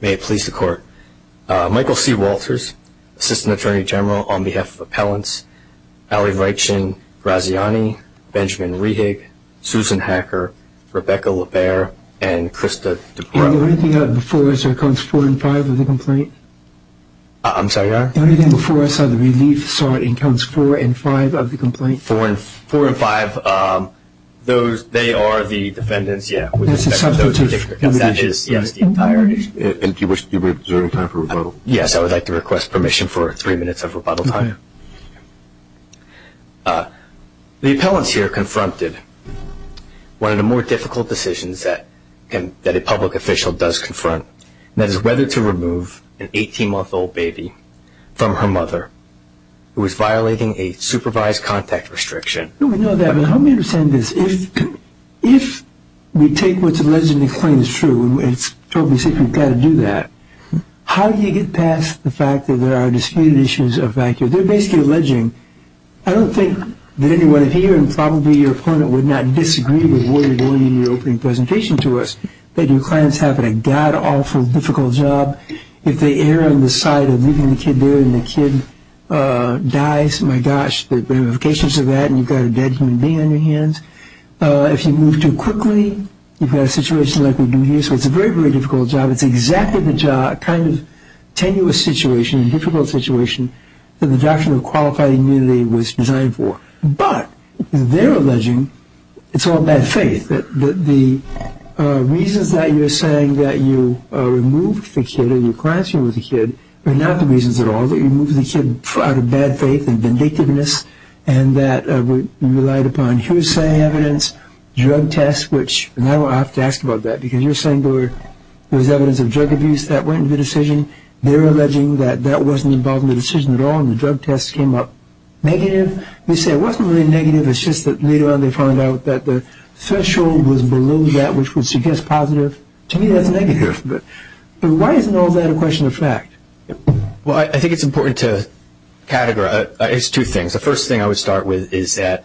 May it please the court. Michael C. Walters, Assistant Attorney General on behalf of Appellants Allie Raichin, Graziani, Benjamin Rehig, Susan Hacker, Rebecca LaBaer, and Krista Dupre. Is there anything out of the fours or counts four and five of the complaint? I'm sorry? Is there anything out of the fours or the relief, sorry, in counts four and five of the complaint? Four and five, those, they are the defendants, yeah. And do you wish to reserve time for rebuttal? Yes, I would like to request permission for three minutes of rebuttal time. The appellants here confronted one of the more difficult decisions that a public official does confront, and that is whether to remove an 18-month-old baby from her mother who is violating a supervised contact restriction. We know that, but help me understand this. If we take what's alleged in the claim as true, and it's totally safe, you've got to do that, how do you get past the fact that there are disputed issues of value? They're basically alleging, I don't think that anyone here, and probably your opponent, would not disagree with what you're doing in your opening presentation to us, that your client's having a god-awful difficult job. If they err on the side of leaving the kid there and the kid dies, my gosh, the ramifications of that, and you've got a dead human being on your hands. If you move too quickly, you've got a situation like we do here. So it's a very, very difficult job. It's exactly the kind of tenuous situation, difficult situation, that the doctrine of qualified immunity was designed for. But they're alleging it's all bad faith, that the reasons that you're saying that you removed the kid or your client's removed the kid are not the reasons at all that you removed the kid out of bad faith and vindictiveness, and that you relied upon hearsay evidence, drug tests, which now I have to ask about that because you're saying there was evidence of drug abuse that went into the decision, they're alleging that that wasn't involved in the decision at all and the drug tests came up negative. They say it wasn't really negative, it's just that later on they found out that the threshold was below that which would suggest positive. To me that's negative. But why isn't all that a question of fact? Well, I think it's important to categorize. It's two things. The first thing I would start with is that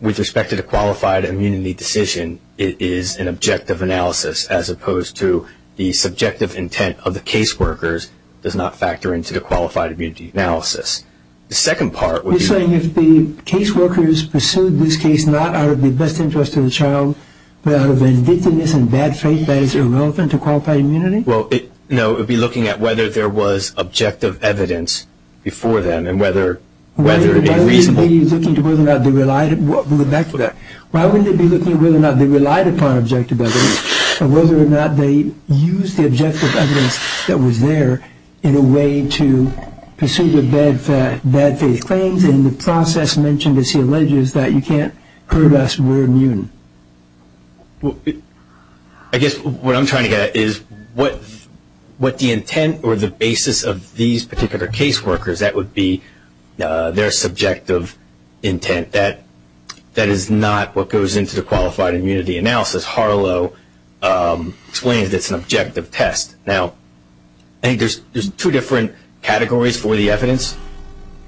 with respect to the qualified immunity decision, it is an objective analysis as opposed to the subjective intent of the caseworkers does not factor into the qualified immunity analysis. The second part would be... You're saying if the caseworkers pursued this case not out of the best interest of the child but out of vindictiveness and bad faith that it's irrelevant to qualified immunity? No, it would be looking at whether there was objective evidence before them and whether a reasonable... Why wouldn't they be looking at whether or not they relied upon objective evidence and whether or not they used the objective evidence that was there in a way to pursue the bad faith claims and the process mentioned, as he alleges, that you can't prove us we're immune? I guess what I'm trying to get at is what the intent or the basis of these particular caseworkers, that would be their subjective intent. That is not what goes into the qualified immunity analysis. Harlow explains it's an objective test. Now, I think there's two different categories for the evidence.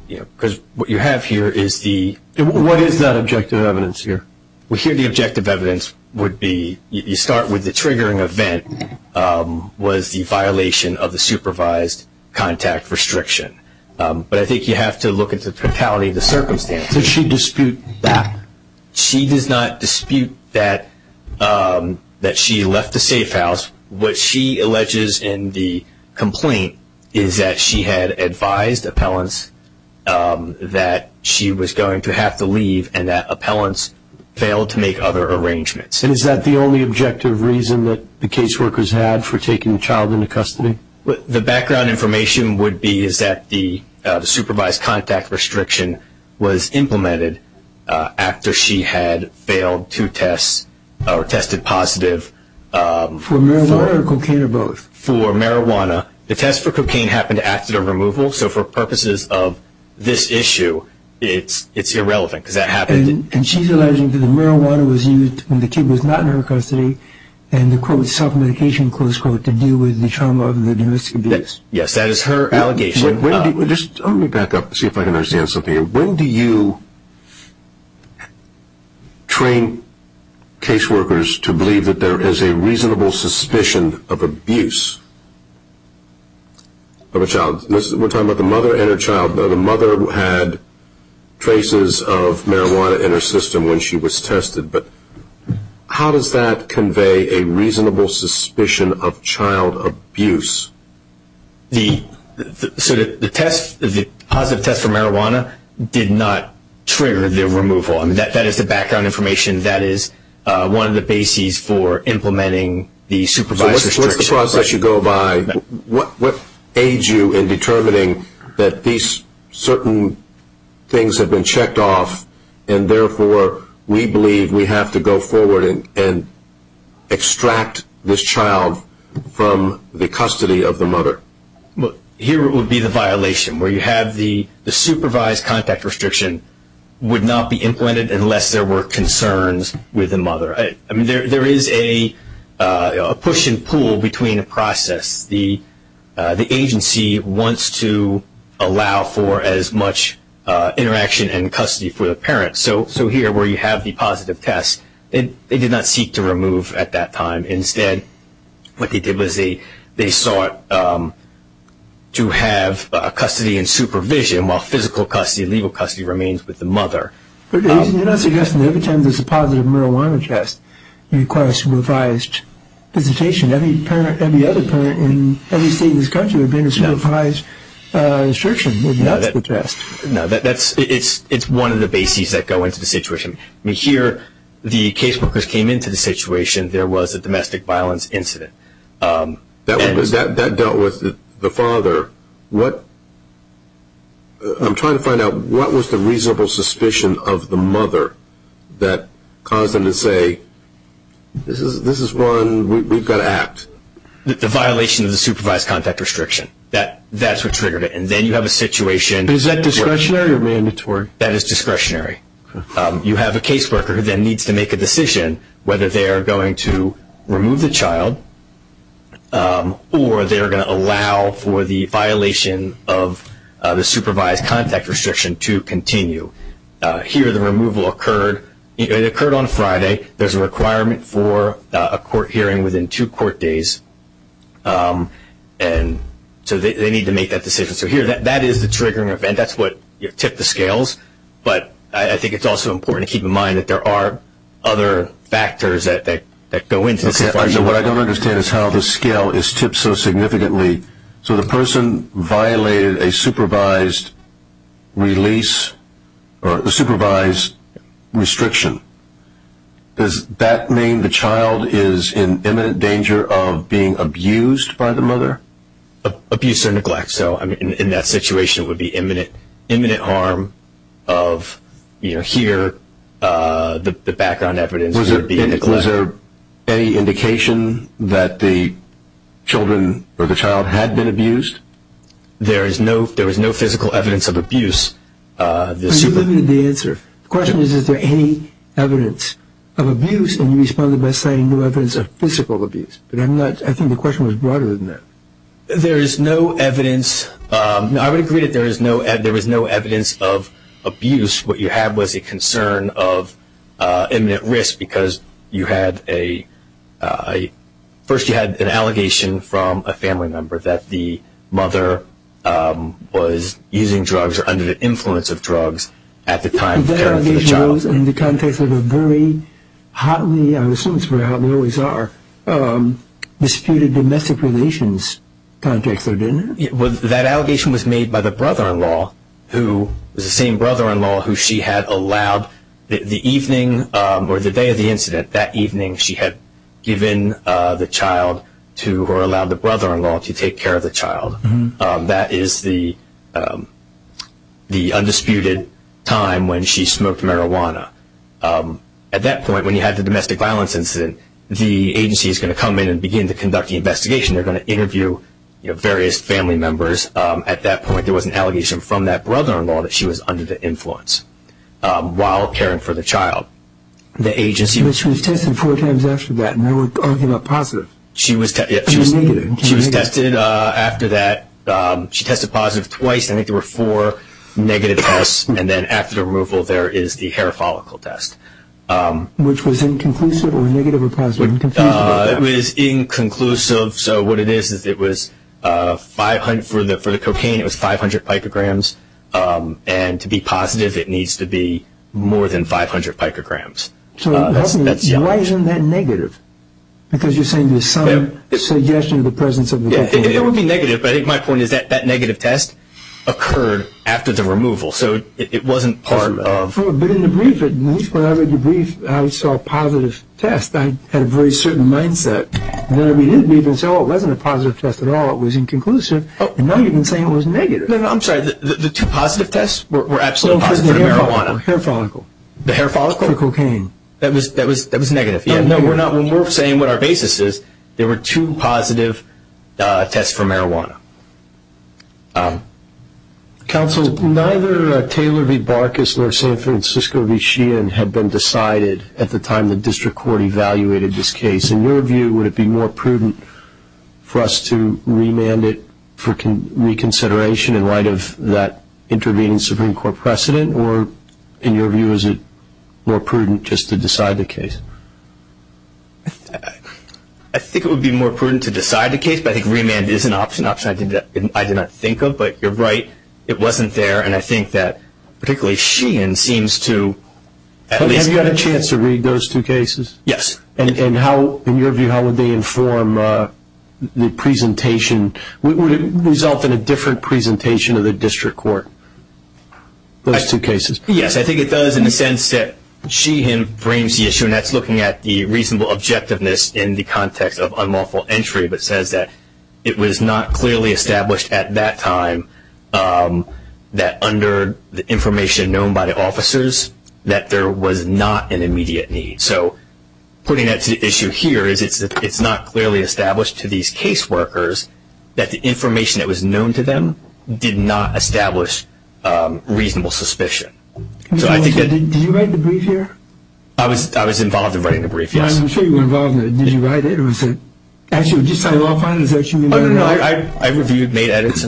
Because what you have here is the... What is that objective evidence here? Well, here the objective evidence would be... You start with the triggering event was the violation of the supervised contact restriction. But I think you have to look at the totality of the circumstances. Does she dispute that? She does not dispute that she left the safe house. What she alleges in the complaint is that she had advised appellants that she was going to have to leave and that appellants failed to make other arrangements. And is that the only objective reason that the caseworkers had for taking the child into custody? The background information would be that the supervised contact restriction was implemented after she had failed two tests or tested positive. For marijuana or cocaine or both? For marijuana. The test for cocaine happened after the removal. So for purposes of this issue, it's irrelevant because that happened... And she's alleging that the marijuana was used when the kid was not in her custody and the, quote, self-medication, close quote, to deal with the trauma of the domestic abuse. Yes, that is her allegation. Let me back up and see if I can understand something. When do you train caseworkers to believe that there is a reasonable suspicion of abuse of a child? We're talking about the mother and her child. The mother had traces of marijuana in her system when she was tested, but how does that convey a reasonable suspicion of child abuse? The positive test for marijuana did not trigger the removal. That is the background information. That is one of the bases for implementing the supervised restriction. So what's the process you go by? What aids you in determining that these certain things have been checked off and therefore we believe we have to go forward and extract this child from the custody of the mother? Here would be the violation where you have the supervised contact restriction would not be implemented unless there were concerns with the mother. I mean, there is a push and pull between the process. The agency wants to allow for as much interaction and custody for the parent. So here where you have the positive test, they did not seek to remove at that time. Instead, what they did was they sought to have custody and supervision while physical custody and legal custody remains with the mother. You're not suggesting that every time there's a positive marijuana test, you request revised visitation. Every parent, every other parent in every state in this country would be under supervised restriction if that's the test. No, it's one of the bases that go into the situation. Here, the case workers came into the situation. There was a domestic violence incident. That dealt with the father. I'm trying to find out what was the reasonable suspicion of the mother that caused them to say, this is one, we've got to act. The violation of the supervised contact restriction. That's what triggered it. And then you have a situation. Is that discretionary or mandatory? That is discretionary. You have a case worker who then needs to make a decision whether they are going to remove the child or they are going to allow for the violation of the supervised contact restriction to continue. Here, the removal occurred. It occurred on Friday. There's a requirement for a court hearing within two court days. And so they need to make that decision. So here, that is the triggering event. That's what tipped the scales. But I think it's also important to keep in mind that there are other factors that go into this. What I don't understand is how the scale is tipped so significantly. So the person violated a supervised release or a supervised restriction. Does that mean the child is in imminent danger of being abused by the mother? Abuse or neglect. So in that situation, it would be imminent harm of here, the background evidence. Was there any indication that the children or the child had been abused? There was no physical evidence of abuse. The question is, is there any evidence of abuse? And you responded by saying no evidence of physical abuse. But I think the question was broader than that. There is no evidence. I would agree that there is no evidence of abuse. What you have was a concern of imminent risk because you had a ‑‑ first you had an allegation from a family member that the mother was using drugs or under the influence of drugs at the time of the parents of the child. That allegation was in the context of a very hotly, I would assume it's very hotly, always are disputed domestic relations context, though, didn't it? That allegation was made by the brother‑in‑law who was the same brother‑in‑law who she had allowed the evening or the day of the incident, that evening she had given the child to or allowed the brother‑in‑law to take care of the child. That is the undisputed time when she smoked marijuana. At that point, when you have the domestic violence incident, the agency is going to come in and begin to conduct the investigation. They're going to interview various family members. At that point, there was an allegation from that brother‑in‑law that she was under the influence while caring for the child. But she was tested four times after that, and they were arguing about positive. She was tested after that. She tested positive twice. I think there were four negative tests. And then after the removal, there is the hair follicle test. Which was inconclusive or negative or positive? It was inconclusive. So what it is is it was 500 for the cocaine, it was 500 picograms. And to be positive, it needs to be more than 500 picograms. So why isn't that negative? Because you're saying there's some suggestion of the presence of the cocaine. It would be negative, but I think my point is that that negative test occurred after the removal. So it wasn't part of... When I read the brief, I saw a positive test. I had a very certain mindset. Then I read the brief and saw it wasn't a positive test at all. It was inconclusive. And now you're saying it was negative. I'm sorry. The two positive tests were absolutely positive for the marijuana. The hair follicle. The hair follicle? For the cocaine. That was negative. No, we're not. We're saying what our basis is. There were two positive tests for marijuana. Counsel, neither Taylor v. Barkis nor San Francisco v. Sheehan had been decided at the time the district court evaluated this case. In your view, would it be more prudent for us to remand it for reconsideration in light of that intervening Supreme Court precedent? Or in your view, is it more prudent just to decide the case? I think it would be more prudent to decide the case, but I think remand is an option, an option I did not think of. But you're right, it wasn't there. And I think that particularly Sheehan seems to at least have a chance. Have you had a chance to read those two cases? Yes. And in your view, how would they inform the presentation? Would it result in a different presentation of the district court, those two cases? Yes, I think it does in the sense that Sheehan brings the issue, and that's looking at the reasonable objectiveness in the context of unlawful entry, but says that it was not clearly established at that time that under the information known by the officers that there was not an immediate need. So putting that to the issue here is it's not clearly established to these case workers that the information that was known to them did not establish reasonable suspicion. Did you write the brief here? I was involved in writing the brief, yes. I'm sure you were involved in it. Did you write it? Actually, did you sign off on it? No, no, no, I reviewed, made edits.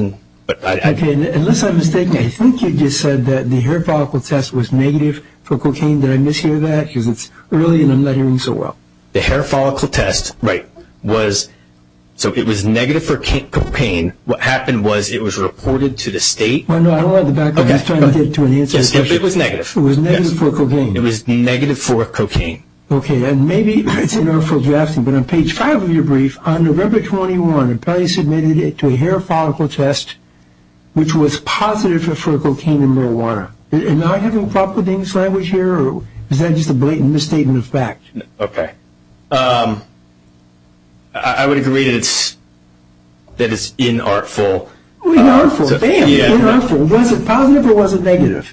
Okay, unless I'm mistaken, I think you just said that the hair follicle test was negative for cocaine. Did I mishear that? Because it's early in the lettering so well. The hair follicle test, right, so it was negative for cocaine. What happened was it was reported to the state. No, no, I don't like the background. I was trying to get to an answer to the question. It was negative. It was negative for cocaine. It was negative for cocaine. Okay, and maybe it's inartful drafting, but on page five of your brief on November 21, an appellee submitted it to a hair follicle test, which was positive for cocaine and marijuana. Am I having a problem with this language here, or is that just a blatant misstatement of fact? Okay, I would agree that it's inartful. Inartful, damn, inartful. Was it positive or was it negative?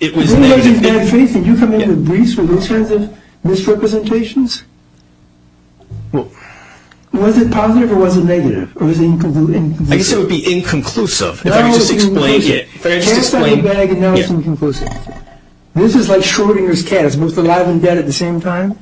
It was negative. In bad faith, did you come into briefs with those kinds of misrepresentations? Was it positive or was it negative, or was it inconclusive? I guess it would be inconclusive if I could just explain it. No, it was inconclusive. If I could just explain. Cast out the bag and now it's inconclusive. This is like Schrodinger's cat, it's both alive and dead at the same time.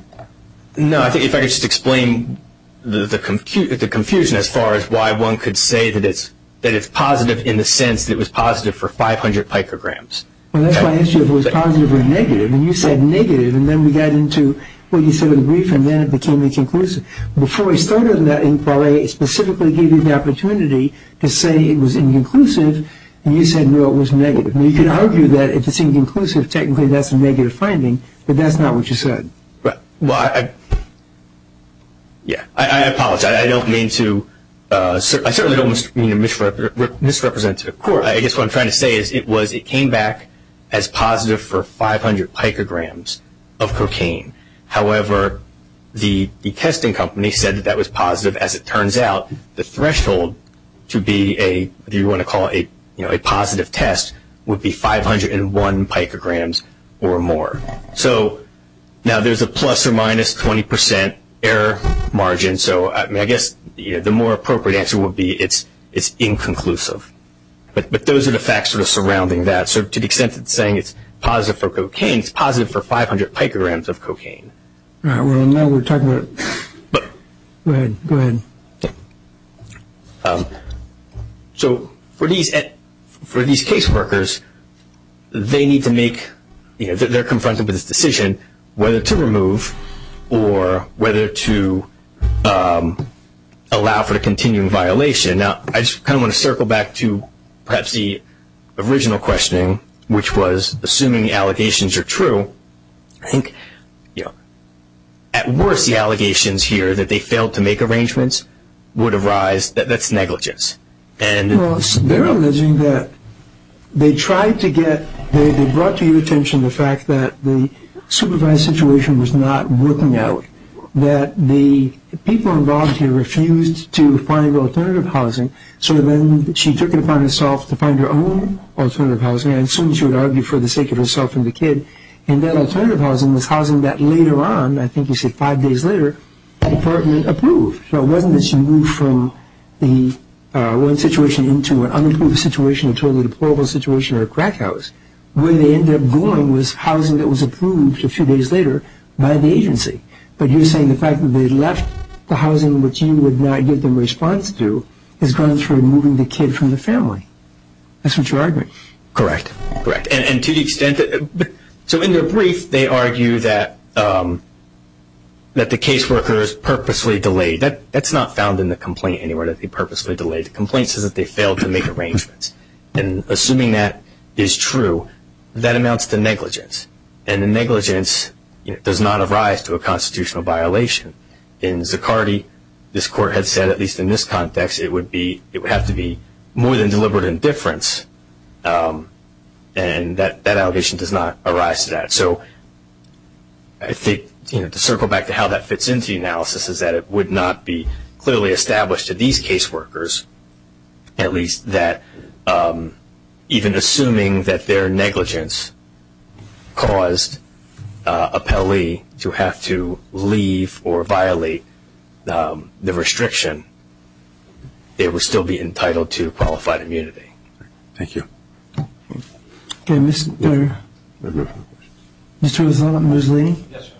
No, I think if I could just explain the confusion as far as why one could say that it's positive in the sense that it was positive for 500 micrograms. Well, that's why I asked you if it was positive or negative, and you said negative, and then we got into what you said in the brief, and then it became inconclusive. Before we started that inquiry, it specifically gave you the opportunity to say it was inconclusive, and you said, no, it was negative. Now, you could argue that if it's inconclusive, technically that's a negative finding, but that's not what you said. Well, I apologize. I certainly don't mean to misrepresent it. Of course. I guess what I'm trying to say is it came back as positive for 500 micrograms of cocaine. However, the testing company said that that was positive. As it turns out, the threshold to be a positive test would be 501 micrograms or more. So now there's a plus or minus 20% error margin, so I guess the more appropriate answer would be it's inconclusive. But those are the facts sort of surrounding that. So to the extent that it's saying it's positive for cocaine, it's positive for 500 micrograms of cocaine. All right. Well, now we're talking about it. Go ahead. Go ahead. So for these caseworkers, they need to make, you know, they're confronted with this decision whether to remove or whether to allow for the continuing violation. Now, I just kind of want to circle back to perhaps the original questioning, which was assuming the allegations are true, I think, you know, at worst the allegations here that they failed to make arrangements would arise, that's negligence. Well, they're alleging that they tried to get, they brought to your attention the fact that the supervised situation was not working out, that the people involved here refused to find alternative housing, so then she took it upon herself to find her own alternative housing. I assume she would argue for the sake of herself and the kid. And that alternative housing was housing that later on, I think you said five days later, the department approved. So it wasn't that she moved from the one situation into an unapproved situation, a totally deplorable situation or a crack house. Where they ended up going was housing that was approved a few days later by the agency. But you're saying the fact that they left the housing which you would not give them a response to has gone through removing the kid from the family. That's what you're arguing. Correct. Correct. And to the extent that, so in their brief, they argue that the caseworker is purposely delayed. That's not found in the complaint anywhere, that they purposely delayed. The complaint says that they failed to make arrangements. And assuming that is true, that amounts to negligence. And the negligence does not arise to a constitutional violation. In Zaccardi, this court had said, at least in this context, it would have to be more than deliberate indifference, and that allegation does not arise to that. So I think to circle back to how that fits into the analysis is that it would not be clearly established to these caseworkers, at least that even assuming that their negligence caused a Pelley to have to leave or violate the restriction, they would still be entitled to qualified immunity. Thank you. Okay, Mr. Rosado and Ms. Laney? Yes,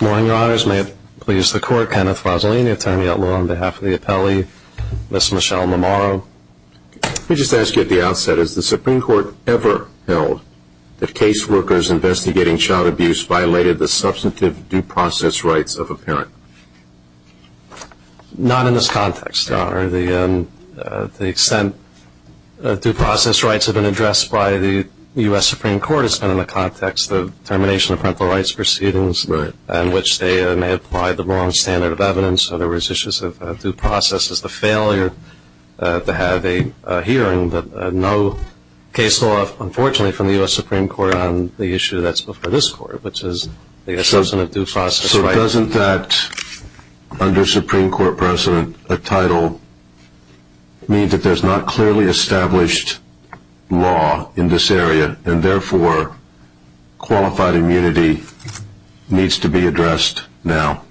Your Honor. Members, may it please the Court, Kenneth Rosalene, attorney-at-law on behalf of the Pelley, Ms. Michelle Mamaro. Let me just ask you at the outset, has the Supreme Court ever held that caseworkers investigating child abuse violated the substantive due process rights of a parent? Not in this context, Your Honor. The extent due process rights have been addressed by the U.S. Supreme Court has been in the context of termination of parental rights proceedings, in which they may have applied the wrong standard of evidence, or there was issues of due process as the failure to have a hearing, but no case law, unfortunately, from the U.S. Supreme Court on the issue that's before this Court, which is the assessment of due process rights. So doesn't that, under Supreme Court precedent, a title mean that there's not clearly established law in this area, and therefore qualified immunity needs to be addressed now?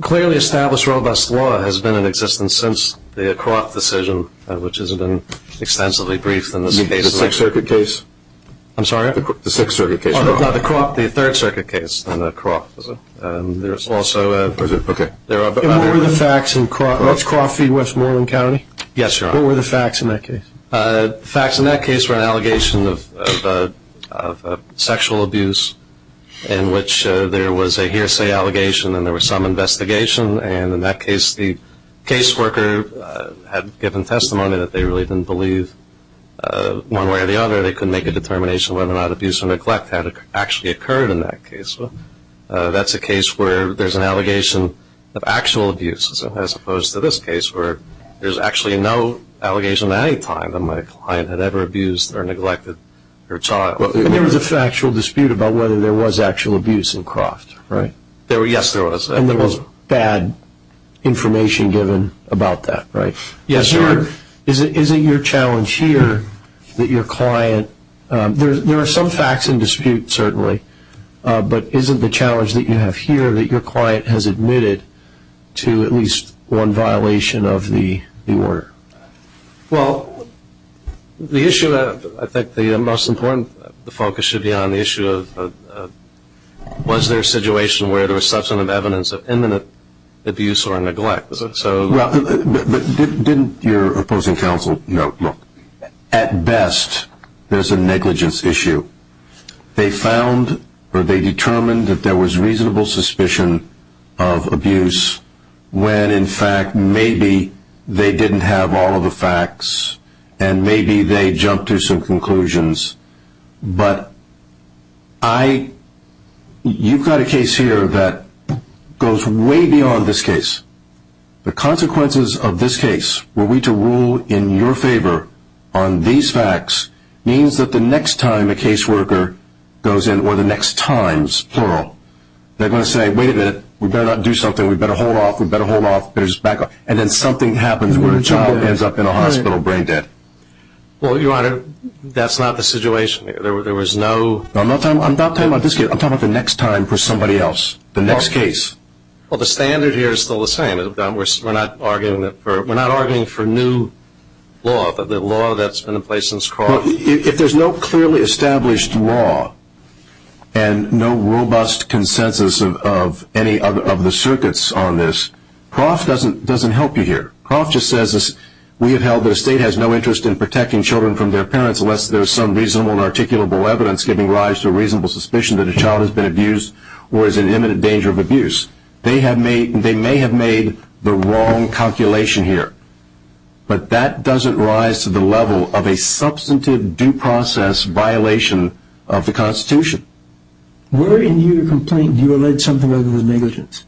Clearly established robust law has been in existence since the Croft decision, which has been extensively briefed in this case. You mean the Sixth Circuit case? I'm sorry? The Sixth Circuit case. No, the Croft, the Third Circuit case, and the Croft. There's also a... Okay. What were the facts in Croft? Does Croft feed Westmoreland County? Yes, Your Honor. What were the facts in that case? The facts in that case were an allegation of sexual abuse, in which there was a hearsay allegation and there was some investigation, and in that case the caseworker had given testimony that they really didn't believe one way or the other. They couldn't make a determination whether or not abuse or neglect had actually occurred in that case. That's a case where there's an allegation of actual abuse, as opposed to this case where there's actually no allegation at any time that my client had ever abused or neglected her child. And there was a factual dispute about whether there was actual abuse in Croft, right? Yes, there was. And there was bad information given about that, right? Yes, Your Honor. Is it your challenge here that your client, there are some facts in dispute certainly, but is it the challenge that you have here that your client has admitted to at least one violation of the order? Well, the issue that I think the most important focus should be on the issue of was there a situation where there was substantive evidence of imminent abuse or neglect? Didn't your opposing counsel note, look, at best there's a negligence issue. They found or they determined that there was reasonable suspicion of abuse when, in fact, maybe they didn't have all of the facts and maybe they jumped to some conclusions. But you've got a case here that goes way beyond this case. The consequences of this case were we to rule in your favor on these facts means that the next time a caseworker goes in or the next times, plural, they're going to say, wait a minute, we better not do something. We better hold off. We better hold off. We better just back off. And then something happens where a child ends up in a hospital brain dead. Well, Your Honor, that's not the situation. There was no – I'm not talking about this case. I'm talking about the next time for somebody else, the next case. Well, the standard here is still the same. We're not arguing for new law, but the law that's been in place since Croft. If there's no clearly established law and no robust consensus of any of the circuits on this, Croft doesn't help you here. Croft just says we have held that a state has no interest in protecting children from their parents unless there's some reasonable and articulable evidence giving rise to a reasonable suspicion that a child has been abused or is in imminent danger of abuse. They may have made the wrong calculation here, but that doesn't rise to the level of a substantive due process violation of the Constitution. Where in your complaint do you allege something other than negligence?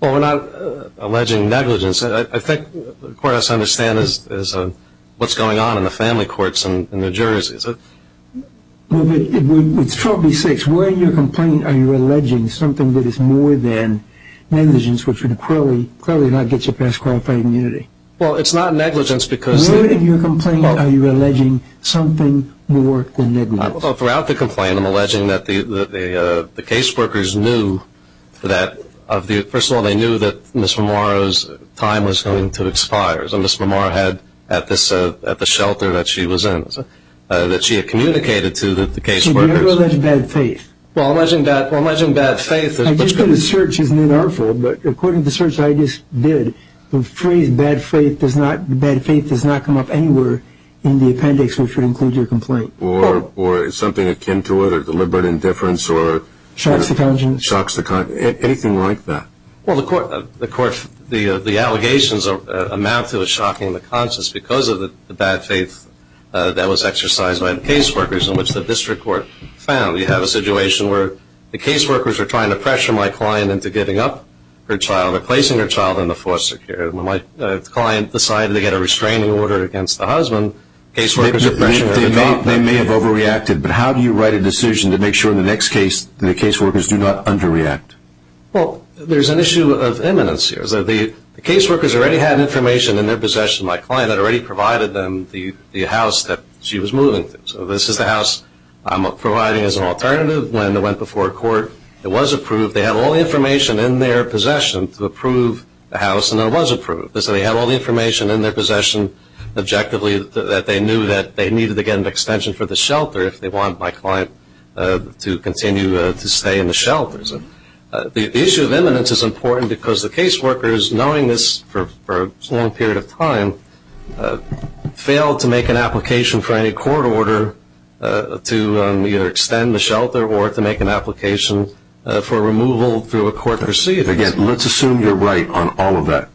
Well, we're not alleging negligence. I think the court has to understand what's going on in the family courts and the juries. Well, it's probably six. Where in your complaint are you alleging something that is more than negligence, which would clearly not get you past qualified immunity? Well, it's not negligence because... Where in your complaint are you alleging something more than negligence? Well, throughout the complaint I'm alleging that the case workers knew that, first of all, they knew that Ms. Mamaro's time was going to expire. And Ms. Mamaro had, at the shelter that she was in, that she had communicated to the case workers. So you're alleging bad faith? Well, I'm alleging bad faith. I just did a search. According to the search I just did, the phrase bad faith does not come up anywhere in the appendix which would include your complaint. Or is something akin to it, or deliberate indifference, or... Shocks to conscience. Shocks to conscience. Anything like that. Well, the allegations amount to a shock in the conscience because of the bad faith that was exercised by the case workers in which the district court found. We have a situation where the case workers are trying to pressure my client into giving up her child or placing her child in the foster care. When my client decided to get a restraining order against the husband, case workers are pressuring her to drop that baby. They may have overreacted, but how do you write a decision to make sure in the next case that the case workers do not underreact? Well, there's an issue of eminence here. The case workers already had information in their possession of my client that already provided them the house that she was moving to. So this is the house I'm providing as an alternative. When I went before court, it was approved. They had all the information in their possession to approve the house, and it was approved. So they had all the information in their possession objectively that they knew that they needed to get an extension for the shelter if they wanted my client to continue to stay in the shelters. The issue of eminence is important because the case workers, knowing this for a long period of time, failed to make an application for any court order to either extend the shelter or to make an application for removal through a court receipt. Again, let's assume you're right on all of that.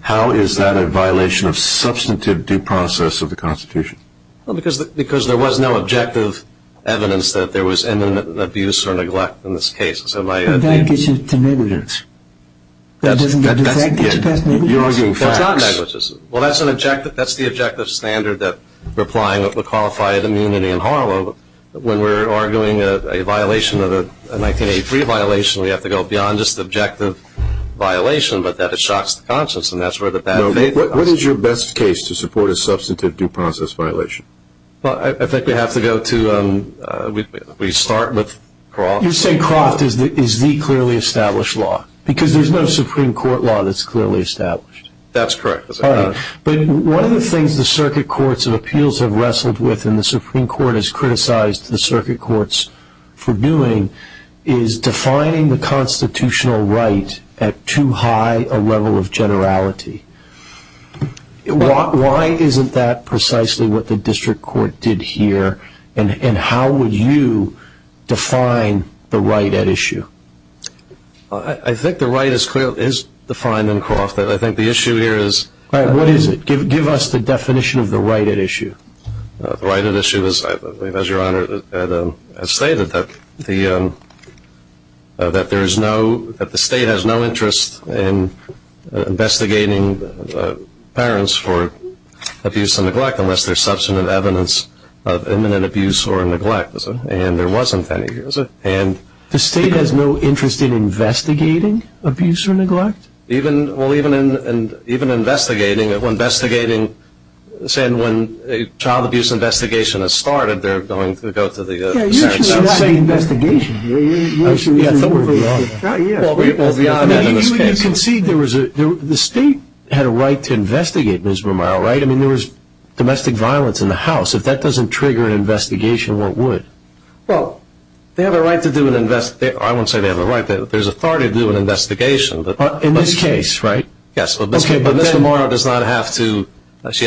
How is that a violation of substantive due process of the Constitution? Because there was no objective evidence that there was eminent abuse or neglect in this case. And that gets you to negligence. That doesn't get you past negligence? You're arguing facts. That's not negligence. Well, that's the objective standard that we're applying that would qualify immunity in Harlow. When we're arguing a violation of a 1983 violation, we have to go beyond just objective violation, What is your best case to support a substantive due process violation? I think we have to go to we start with Croft. You're saying Croft is the clearly established law because there's no Supreme Court law that's clearly established. That's correct. All right. But one of the things the circuit courts of appeals have wrestled with and the Supreme Court has criticized the circuit courts for doing is defining the constitutional right at too high a level of generality. Why isn't that precisely what the district court did here? And how would you define the right at issue? I think the right is defined in Croft. I think the issue here is All right. What is it? Give us the definition of the right at issue. The right at issue is, as Your Honor has stated, that the state has no interest in investigating parents for abuse and neglect unless there's substantive evidence of imminent abuse or neglect. And there wasn't any. The state has no interest in investigating abuse or neglect? Well, even investigating, when investigating, say when a child abuse investigation has started, they're going to go to the parents. Yeah, usually it's not an investigation. Usually it's an investigation. Well, beyond that in this case. You concede the state had a right to investigate, Ms. Vermeil, right? I mean, there was domestic violence in the house. If that doesn't trigger an investigation, what would? Well, they have a right to do an investigation. I wouldn't say they have a right. There's authority to do an investigation. In this case, right? Yes, but Ms. Vermeil does not have to. This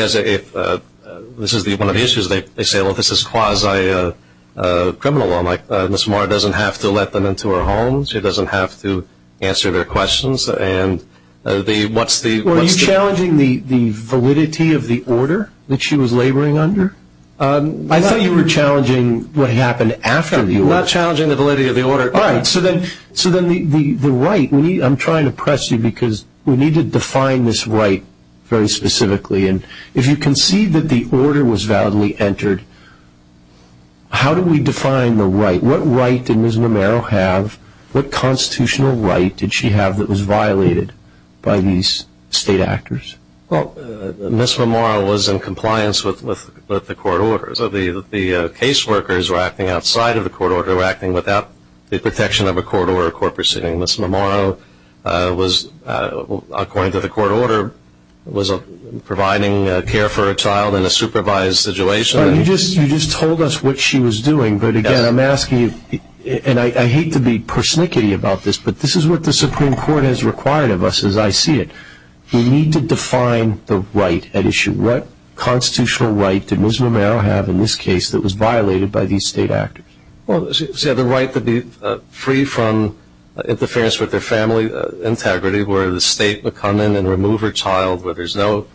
is one of the issues. They say, well, this is quasi-criminal law. Ms. Vermeil doesn't have to let them into her home. She doesn't have to answer their questions. Are you challenging the validity of the order that she was laboring under? I thought you were challenging what happened after the order. I'm not challenging the validity of the order. All right. So then the right, I'm trying to press you because we need to define this right very specifically. And if you concede that the order was validly entered, how do we define the right? What right did Ms. Vermeil have? What constitutional right did she have that was violated by these state actors? Well, Ms. Vermeil was in compliance with the court order. So the case workers were acting outside of the court order, were acting without the protection of a court order or court proceeding. Ms. Mammaro was, according to the court order, was providing care for a child in a supervised situation. You just told us what she was doing. But, again, I'm asking you, and I hate to be persnickety about this, but this is what the Supreme Court has required of us as I see it. We need to define the right at issue. What constitutional right did Ms. Mammaro have in this case that was violated by these state actors? Well, the right to be free from interference with their family integrity, where the state would come in and remove her child, where there's no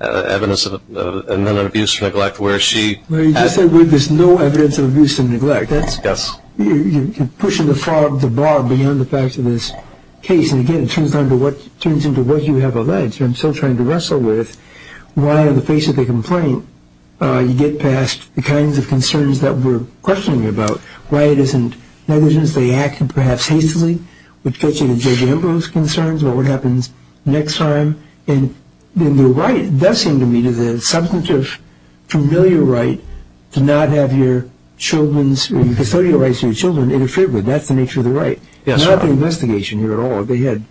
evidence of abuse or neglect. Where you just said there's no evidence of abuse and neglect. Yes. You're pushing the bar beyond the facts of this case. And, again, it turns into what you have alleged, and I'm still trying to wrestle with, why, in the face of the complaint, you get past the kinds of concerns that we're questioning about. Why it isn't negligence. They acted, perhaps, hastily, which gets you to Judge Ambrose's concerns about what happens next time. And the right does seem to me to the substantive, familiar right to not have your children's, or your custodial rights to your children, interfered with. That's the nature of the right. Yes, Your Honor. It's not the investigation here at all. They had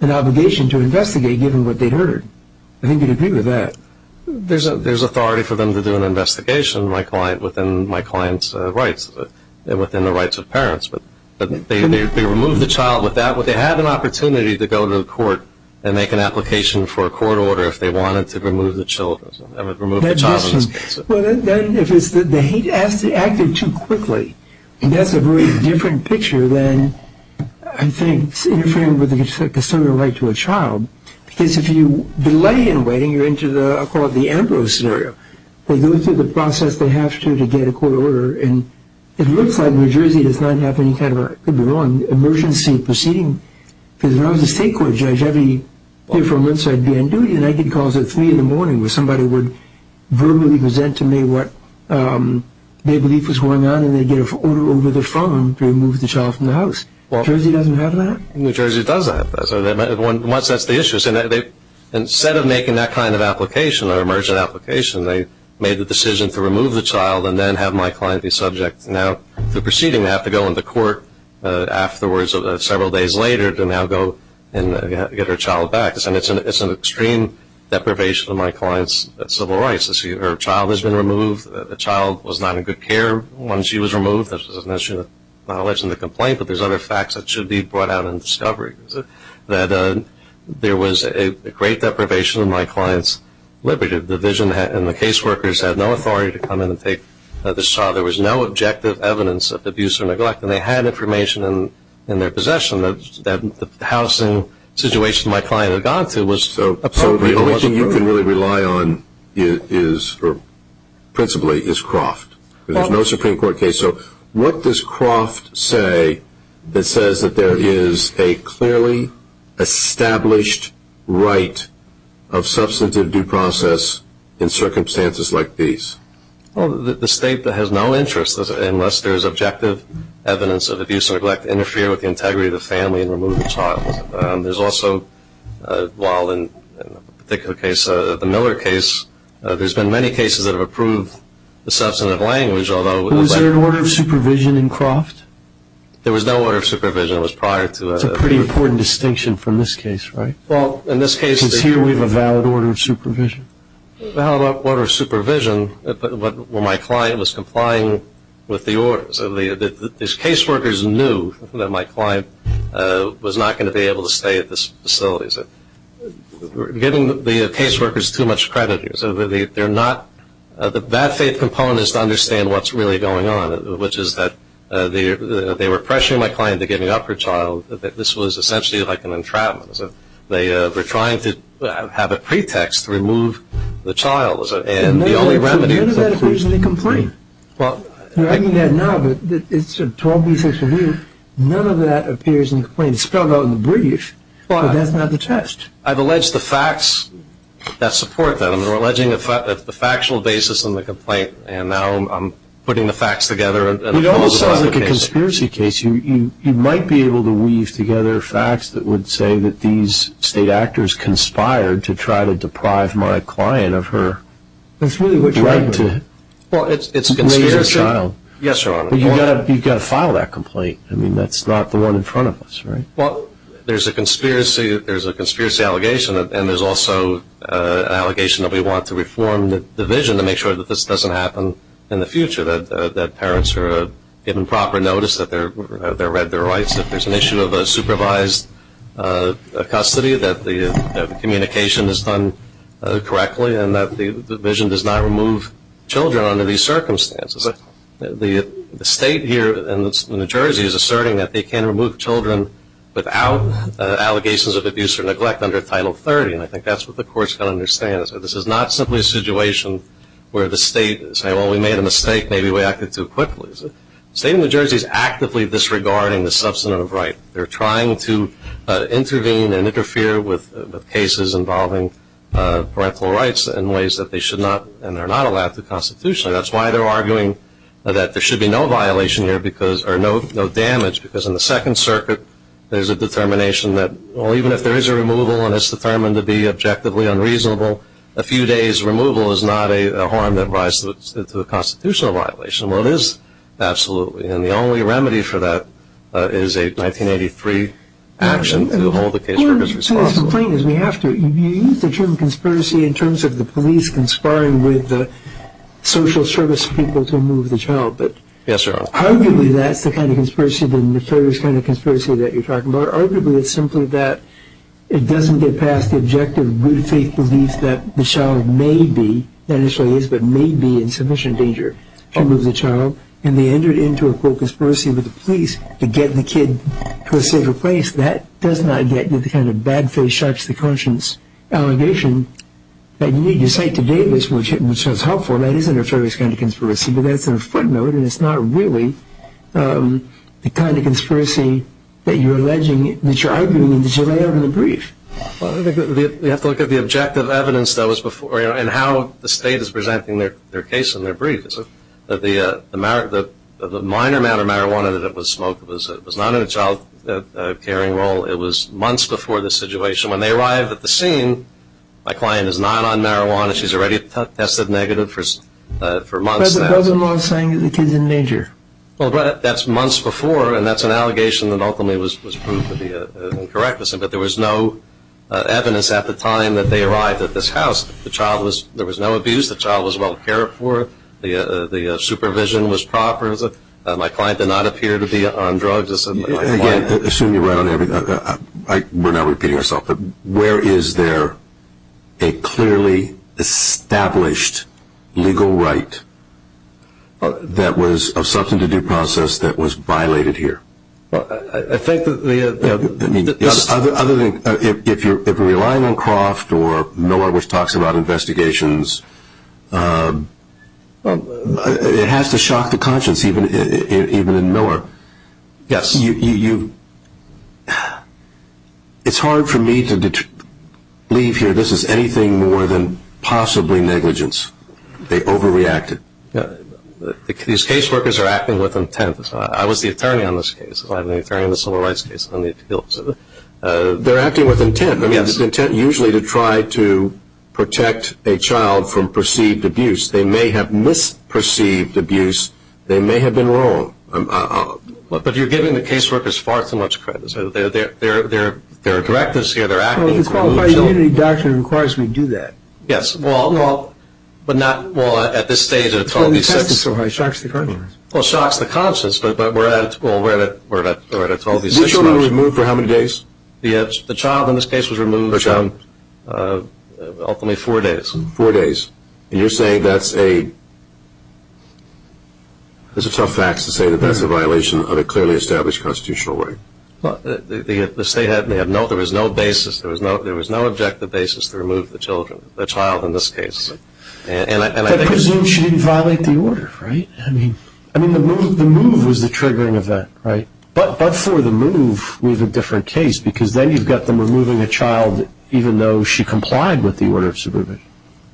an obligation to investigate, given what they'd heard. I think you'd agree with that. There's authority for them to do an investigation, my client, within my client's rights, and within the rights of parents. But they removed the child with that. They had an opportunity to go to the court and make an application for a court order if they wanted to remove the child. Well, then, if it's that they acted too quickly, that's a very different picture than, I think, interfering with the custodial right to a child. Because if you delay in waiting, you're into the, I'll call it the Ambrose scenario. They go through the process they have to to get a court order, and it looks like New Jersey does not have any kind of, I could be wrong, emergency proceeding. Because if I was a state court judge, I'd be here for a month, so I'd be on duty, and I'd get calls at 3 in the morning where somebody would verbally present to me what they believe was going on, and they'd get an order over the phone to remove the child from the house. New Jersey doesn't have that? New Jersey does have that. Once that's the issue, instead of making that kind of application or emergent application, they made the decision to remove the child and then have my client be subject now to proceeding. They have to go into court afterwards, several days later, to now go and get her child back. And it's an extreme deprivation of my client's civil rights. Her child has been removed. This is an issue of knowledge in the complaint, but there's other facts that should be brought out in discovery. There was a great deprivation of my client's liberty. The division and the case workers had no authority to come in and take this child. There was no objective evidence of abuse or neglect, and they had information in their possession that the housing situation my client had gone to was appropriate. So the only thing you can really rely on is, principally, is Croft. There's no Supreme Court case. So what does Croft say that says that there is a clearly established right of substantive due process in circumstances like these? Well, the state has no interest unless there is objective evidence of abuse or neglect to interfere with the integrity of the family and remove the child. There's also, while in a particular case, the Miller case, there's been many cases that have approved the substantive language, although- Was there an order of supervision in Croft? There was no order of supervision. It was prior to- That's a pretty important distinction from this case, right? Well, in this case- Because here we have a valid order of supervision. Well, how about order of supervision when my client was complying with the order? So the case workers knew that my client was not going to be able to stay at this facility. We're giving the case workers too much credit here. So they're not- The bad faith component is to understand what's really going on, which is that they were pressuring my client into giving up her child. This was essentially like an entrapment. They were trying to have a pretext to remove the child. And the only remedy- None of that appears in the complaint. Well- I mean that now, but it's a 12B6 review. None of that appears in the complaint. It's spelled out in the brief, but that's not the test. I've alleged the facts that support that. I'm alleging the factual basis in the complaint, and now I'm putting the facts together and- It almost sounds like a conspiracy case. You might be able to weave together facts that would say that these state actors conspired to try to deprive my client of her right to raise a child. Well, it's conspiracy. Yes, Your Honor. But you've got to file that complaint. I mean that's not the one in front of us, right? Well, there's a conspiracy allegation, and there's also an allegation that we want to reform the division to make sure that this doesn't happen in the future, that parents are given proper notice that they're read their rights, that there's an issue of a supervised custody, that the communication is done correctly, and that the division does not remove children under these circumstances. The state here in New Jersey is asserting that they can't remove children without allegations of abuse or neglect under Title 30, and I think that's what the court's going to understand. This is not simply a situation where the state is saying, well, we made a mistake, maybe we acted too quickly. The state of New Jersey is actively disregarding the substantive right. They're trying to intervene and interfere with cases involving parental rights in ways that they should not and they're not allowed to constitutionally. That's why they're arguing that there should be no damage because in the Second Circuit there's a determination that, well, even if there is a removal and it's determined to be objectively unreasonable, a few days' removal is not a harm that rises to a constitutional violation. Well, it is, absolutely, and the only remedy for that is a 1983 action to hold the case as responsible. You use the term conspiracy in terms of the police conspiring with the social service people to remove the child. Yes, sir. Arguably that's the kind of conspiracy, the nefarious kind of conspiracy that you're talking about. Arguably it's simply that it doesn't get past the objective good faith belief that the child may be, not necessarily is, but may be in sufficient danger to remove the child, and they enter it into a, quote, conspiracy with the police to get the kid to a safer place. That does not get to the kind of bad faith, sharps the conscience allegation that you need to cite to date, which is helpful. That is a nefarious kind of conspiracy, but that's a footnote, and it's not really the kind of conspiracy that you're alleging, that you're arguing, that you lay out in the brief. Well, I think we have to look at the objective evidence that was before, and how the state is presenting their case in their brief. The minor amount of marijuana that was smoked was not in a child carrying role. It was months before the situation. When they arrived at the scene, my client is not on marijuana. She's already tested negative for months. But the cousin-in-law is saying that the kid's in danger. Well, that's months before, and that's an allegation that ultimately was proved to be incorrect. But there was no evidence at the time that they arrived at this house. The child was, there was no abuse. The child was well cared for. The supervision was proper. My client did not appear to be on drugs. Again, assuming you're right on everything, we're not repeating ourselves, but where is there a clearly established legal right that was of substance to due process that was violated here? I think that the other thing, if you're relying on Croft or Miller, which talks about investigations, it has to shock the conscience even in Miller. Yes. It's hard for me to believe here this is anything more than possibly negligence. They overreacted. These caseworkers are acting with intent. I was the attorney on this case. I'm the attorney on the civil rights case. They're acting with intent. I mean, it's intent usually to try to protect a child from perceived abuse. They may have misperceived abuse. They may have been wrong. But you're giving the caseworkers far too much credit. They're directives here. They're acting with intent. The Qualified Immunity Doctrine requires we do that. Yes. Well, at this stage, it totally sucks. It shocks the conscience. Well, it shocks the conscience, but we're at a 12-day suspension. This child was removed for how many days? The child in this case was removed for ultimately four days. Four days. And you're saying that's a ‑‑ it's a tough fact to say that that's a violation of a clearly established constitutional right. Well, the state had no ‑‑ there was no basis, there was no objective basis to remove the child in this case. And I think it's ‑‑ But presume she didn't violate the order, right? I mean, the move was the triggering event, right? But for the move, we have a different case because then you've got them removing a child even though she complied with the order of subpoena.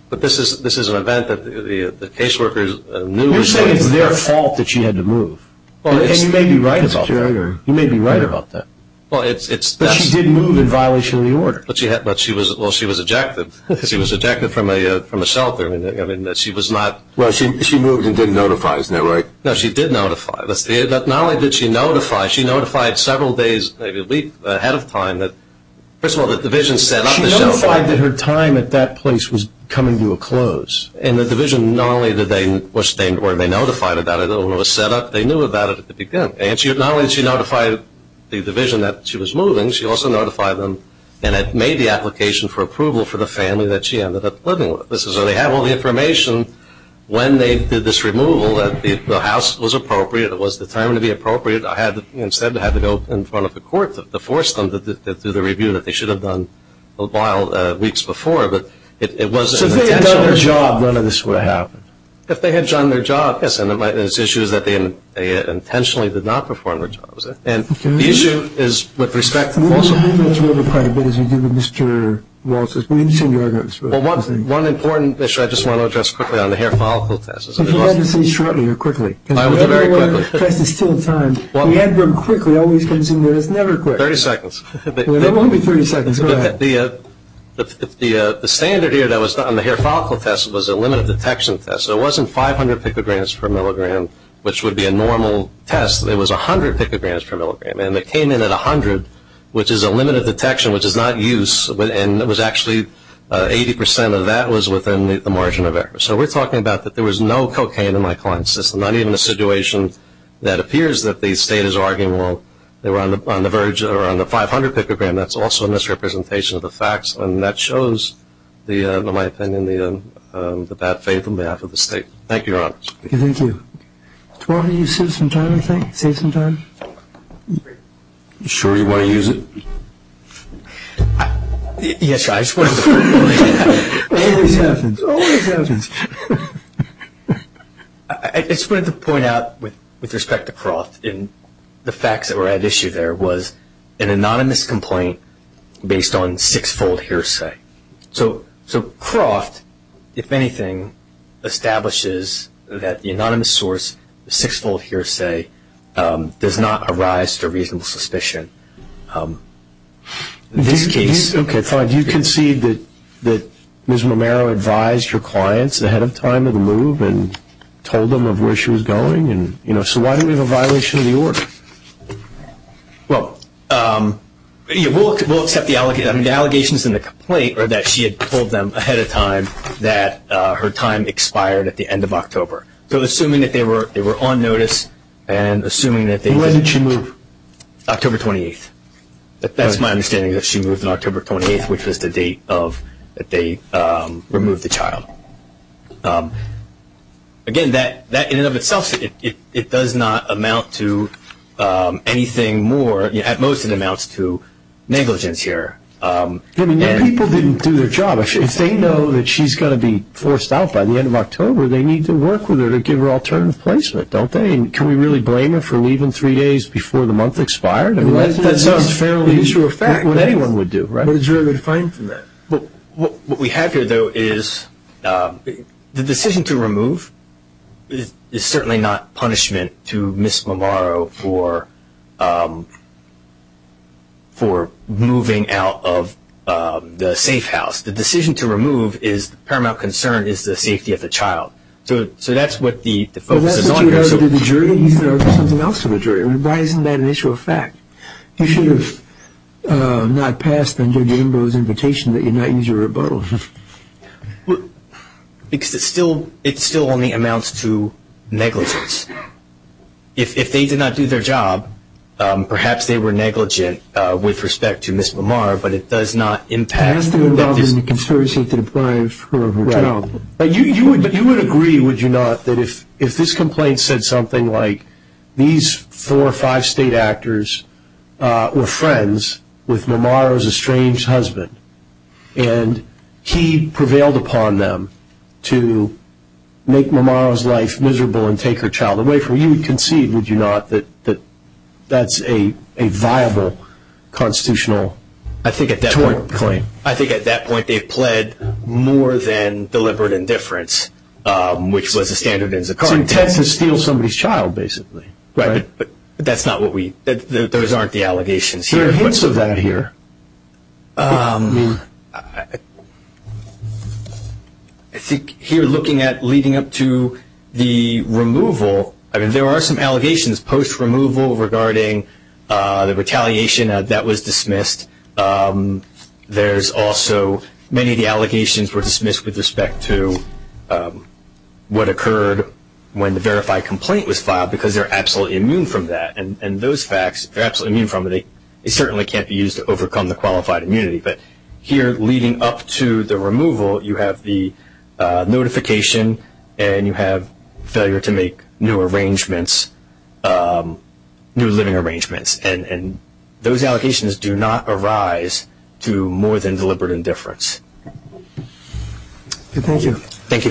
But this is an event that the caseworkers knew was going to happen. You're saying it's their fault that she had to move. And you may be right about that. You may be right about that. But she did move in violation of the order. But she was ‑‑ well, she was ejected. She was ejected from a shelter. I mean, she was not ‑‑ Well, she moved and didn't notify, isn't that right? No, she did notify. Not only did she notify, she notified several days, maybe a week ahead of time, that first of all, the division set up the shelter. She notified that her time at that place was coming to a close. And the division not only did they ‑‑ or they notified about it when it was set up, they knew about it at the beginning. And not only did she notify the division that she was moving, she also notified them and made the application for approval for the family that she ended up living with. So they have all the information when they did this removal, that the house was appropriate, it was determined to be appropriate. Instead, I had to go in front of the court to force them to do the review that they should have done a while, weeks before. But it wasn't intentional. So if they had done their job, none of this would have happened? If they had done their job, yes. And the issue is that they intentionally did not perform their jobs. And the issue is with respect to ‑‑ We've been going through it quite a bit as we deal with Mr. Walters. We understand your arguments. Well, one important issue I just want to address quickly on the hair follicle test. If you had to say shortly or quickly. I will do it very quickly. The test is still timed. We have them quickly. It always comes in. It's never quick. 30 seconds. It won't be 30 seconds. Go ahead. The standard here that was done on the hair follicle test was a limited detection test. So it wasn't 500 picograms per milligram, which would be a normal test. It was 100 picograms per milligram. And it came in at 100, which is a limited detection, which is not use. And it was actually 80% of that was within the margin of error. So we're talking about that there was no cocaine in my client's system, not even a situation that appears that the state is arguing, well, they were on the 500 picogram. That's also a misrepresentation of the facts. And that shows, in my opinion, the bad faith on behalf of the state. Thank you, Your Honors. Thank you. Do you want to use this sometime, I think, save some time? You sure you want to use it? Yes, I suppose. It always happens. It always happens. I just wanted to point out with respect to Croft and the facts that were at issue there was an anonymous complaint based on six-fold hearsay. So Croft, if anything, establishes that the anonymous source, the six-fold hearsay, does not arise to reasonable suspicion. Okay, fine. Do you concede that Ms. Romero advised her clients ahead of time of the move and told them of where she was going? So why do we have a violation of the order? Well, we'll accept the allegations in the complaint are that she had told them ahead of time that her time expired at the end of October. So assuming that they were on notice and assuming that they didn't. When did she move? October 28th. That's my understanding that she moved on October 28th, which was the date that they removed the child. Again, that in and of itself, it does not amount to anything more. At most, it amounts to negligence here. I mean, people didn't do their job. If they know that she's going to be forced out by the end of October, they need to work with her to give her alternative placement, don't they? I mean, can we really blame her for leaving three days before the month expired? That's a fairly sure fact. That's what anyone would do, right? But it's very hard to find from that. What we have here, though, is the decision to remove is certainly not punishment to Ms. Romero for moving out of the safe house. The decision to remove is the paramount concern is the safety of the child. So that's what the focus is on here. But that's what you would argue to the jury. You should argue something else to the jury. I mean, why isn't that an issue of fact? You should have not passed under Jimbo's invitation that you not use your rebuttal. Because it still only amounts to negligence. If they did not do their job, perhaps they were negligent with respect to Ms. Romero, but it does not impact that decision. It has to involve a conspiracy to deprive her of her job. But you would agree, would you not, that if this complaint said something like these four or five state actors were friends with Romero's estranged husband and he prevailed upon them to make Romero's life miserable and take her child away from her, you would concede, would you not, that that's a viable constitutional tort claim? I think at that point they've pled more than deliberate indifference, which was a standard in Zakat. It's intent to steal somebody's child, basically. Right. But that's not what we – those aren't the allegations here. There are hints of that here. I think here looking at leading up to the removal, I mean there are some allegations post-removal regarding the retaliation that was dismissed. There's also many of the allegations were dismissed with respect to what occurred when the verified complaint was filed because they're absolutely immune from that. And those facts, if they're absolutely immune from it, it certainly can't be used to overcome the qualified immunity. But here leading up to the removal, you have the notification and you have failure to make new arrangements, new living arrangements. And those allocations do not arise through more than deliberate indifference. Thank you. Thank you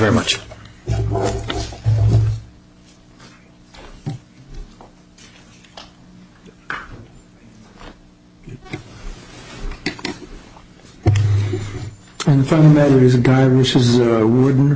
very much.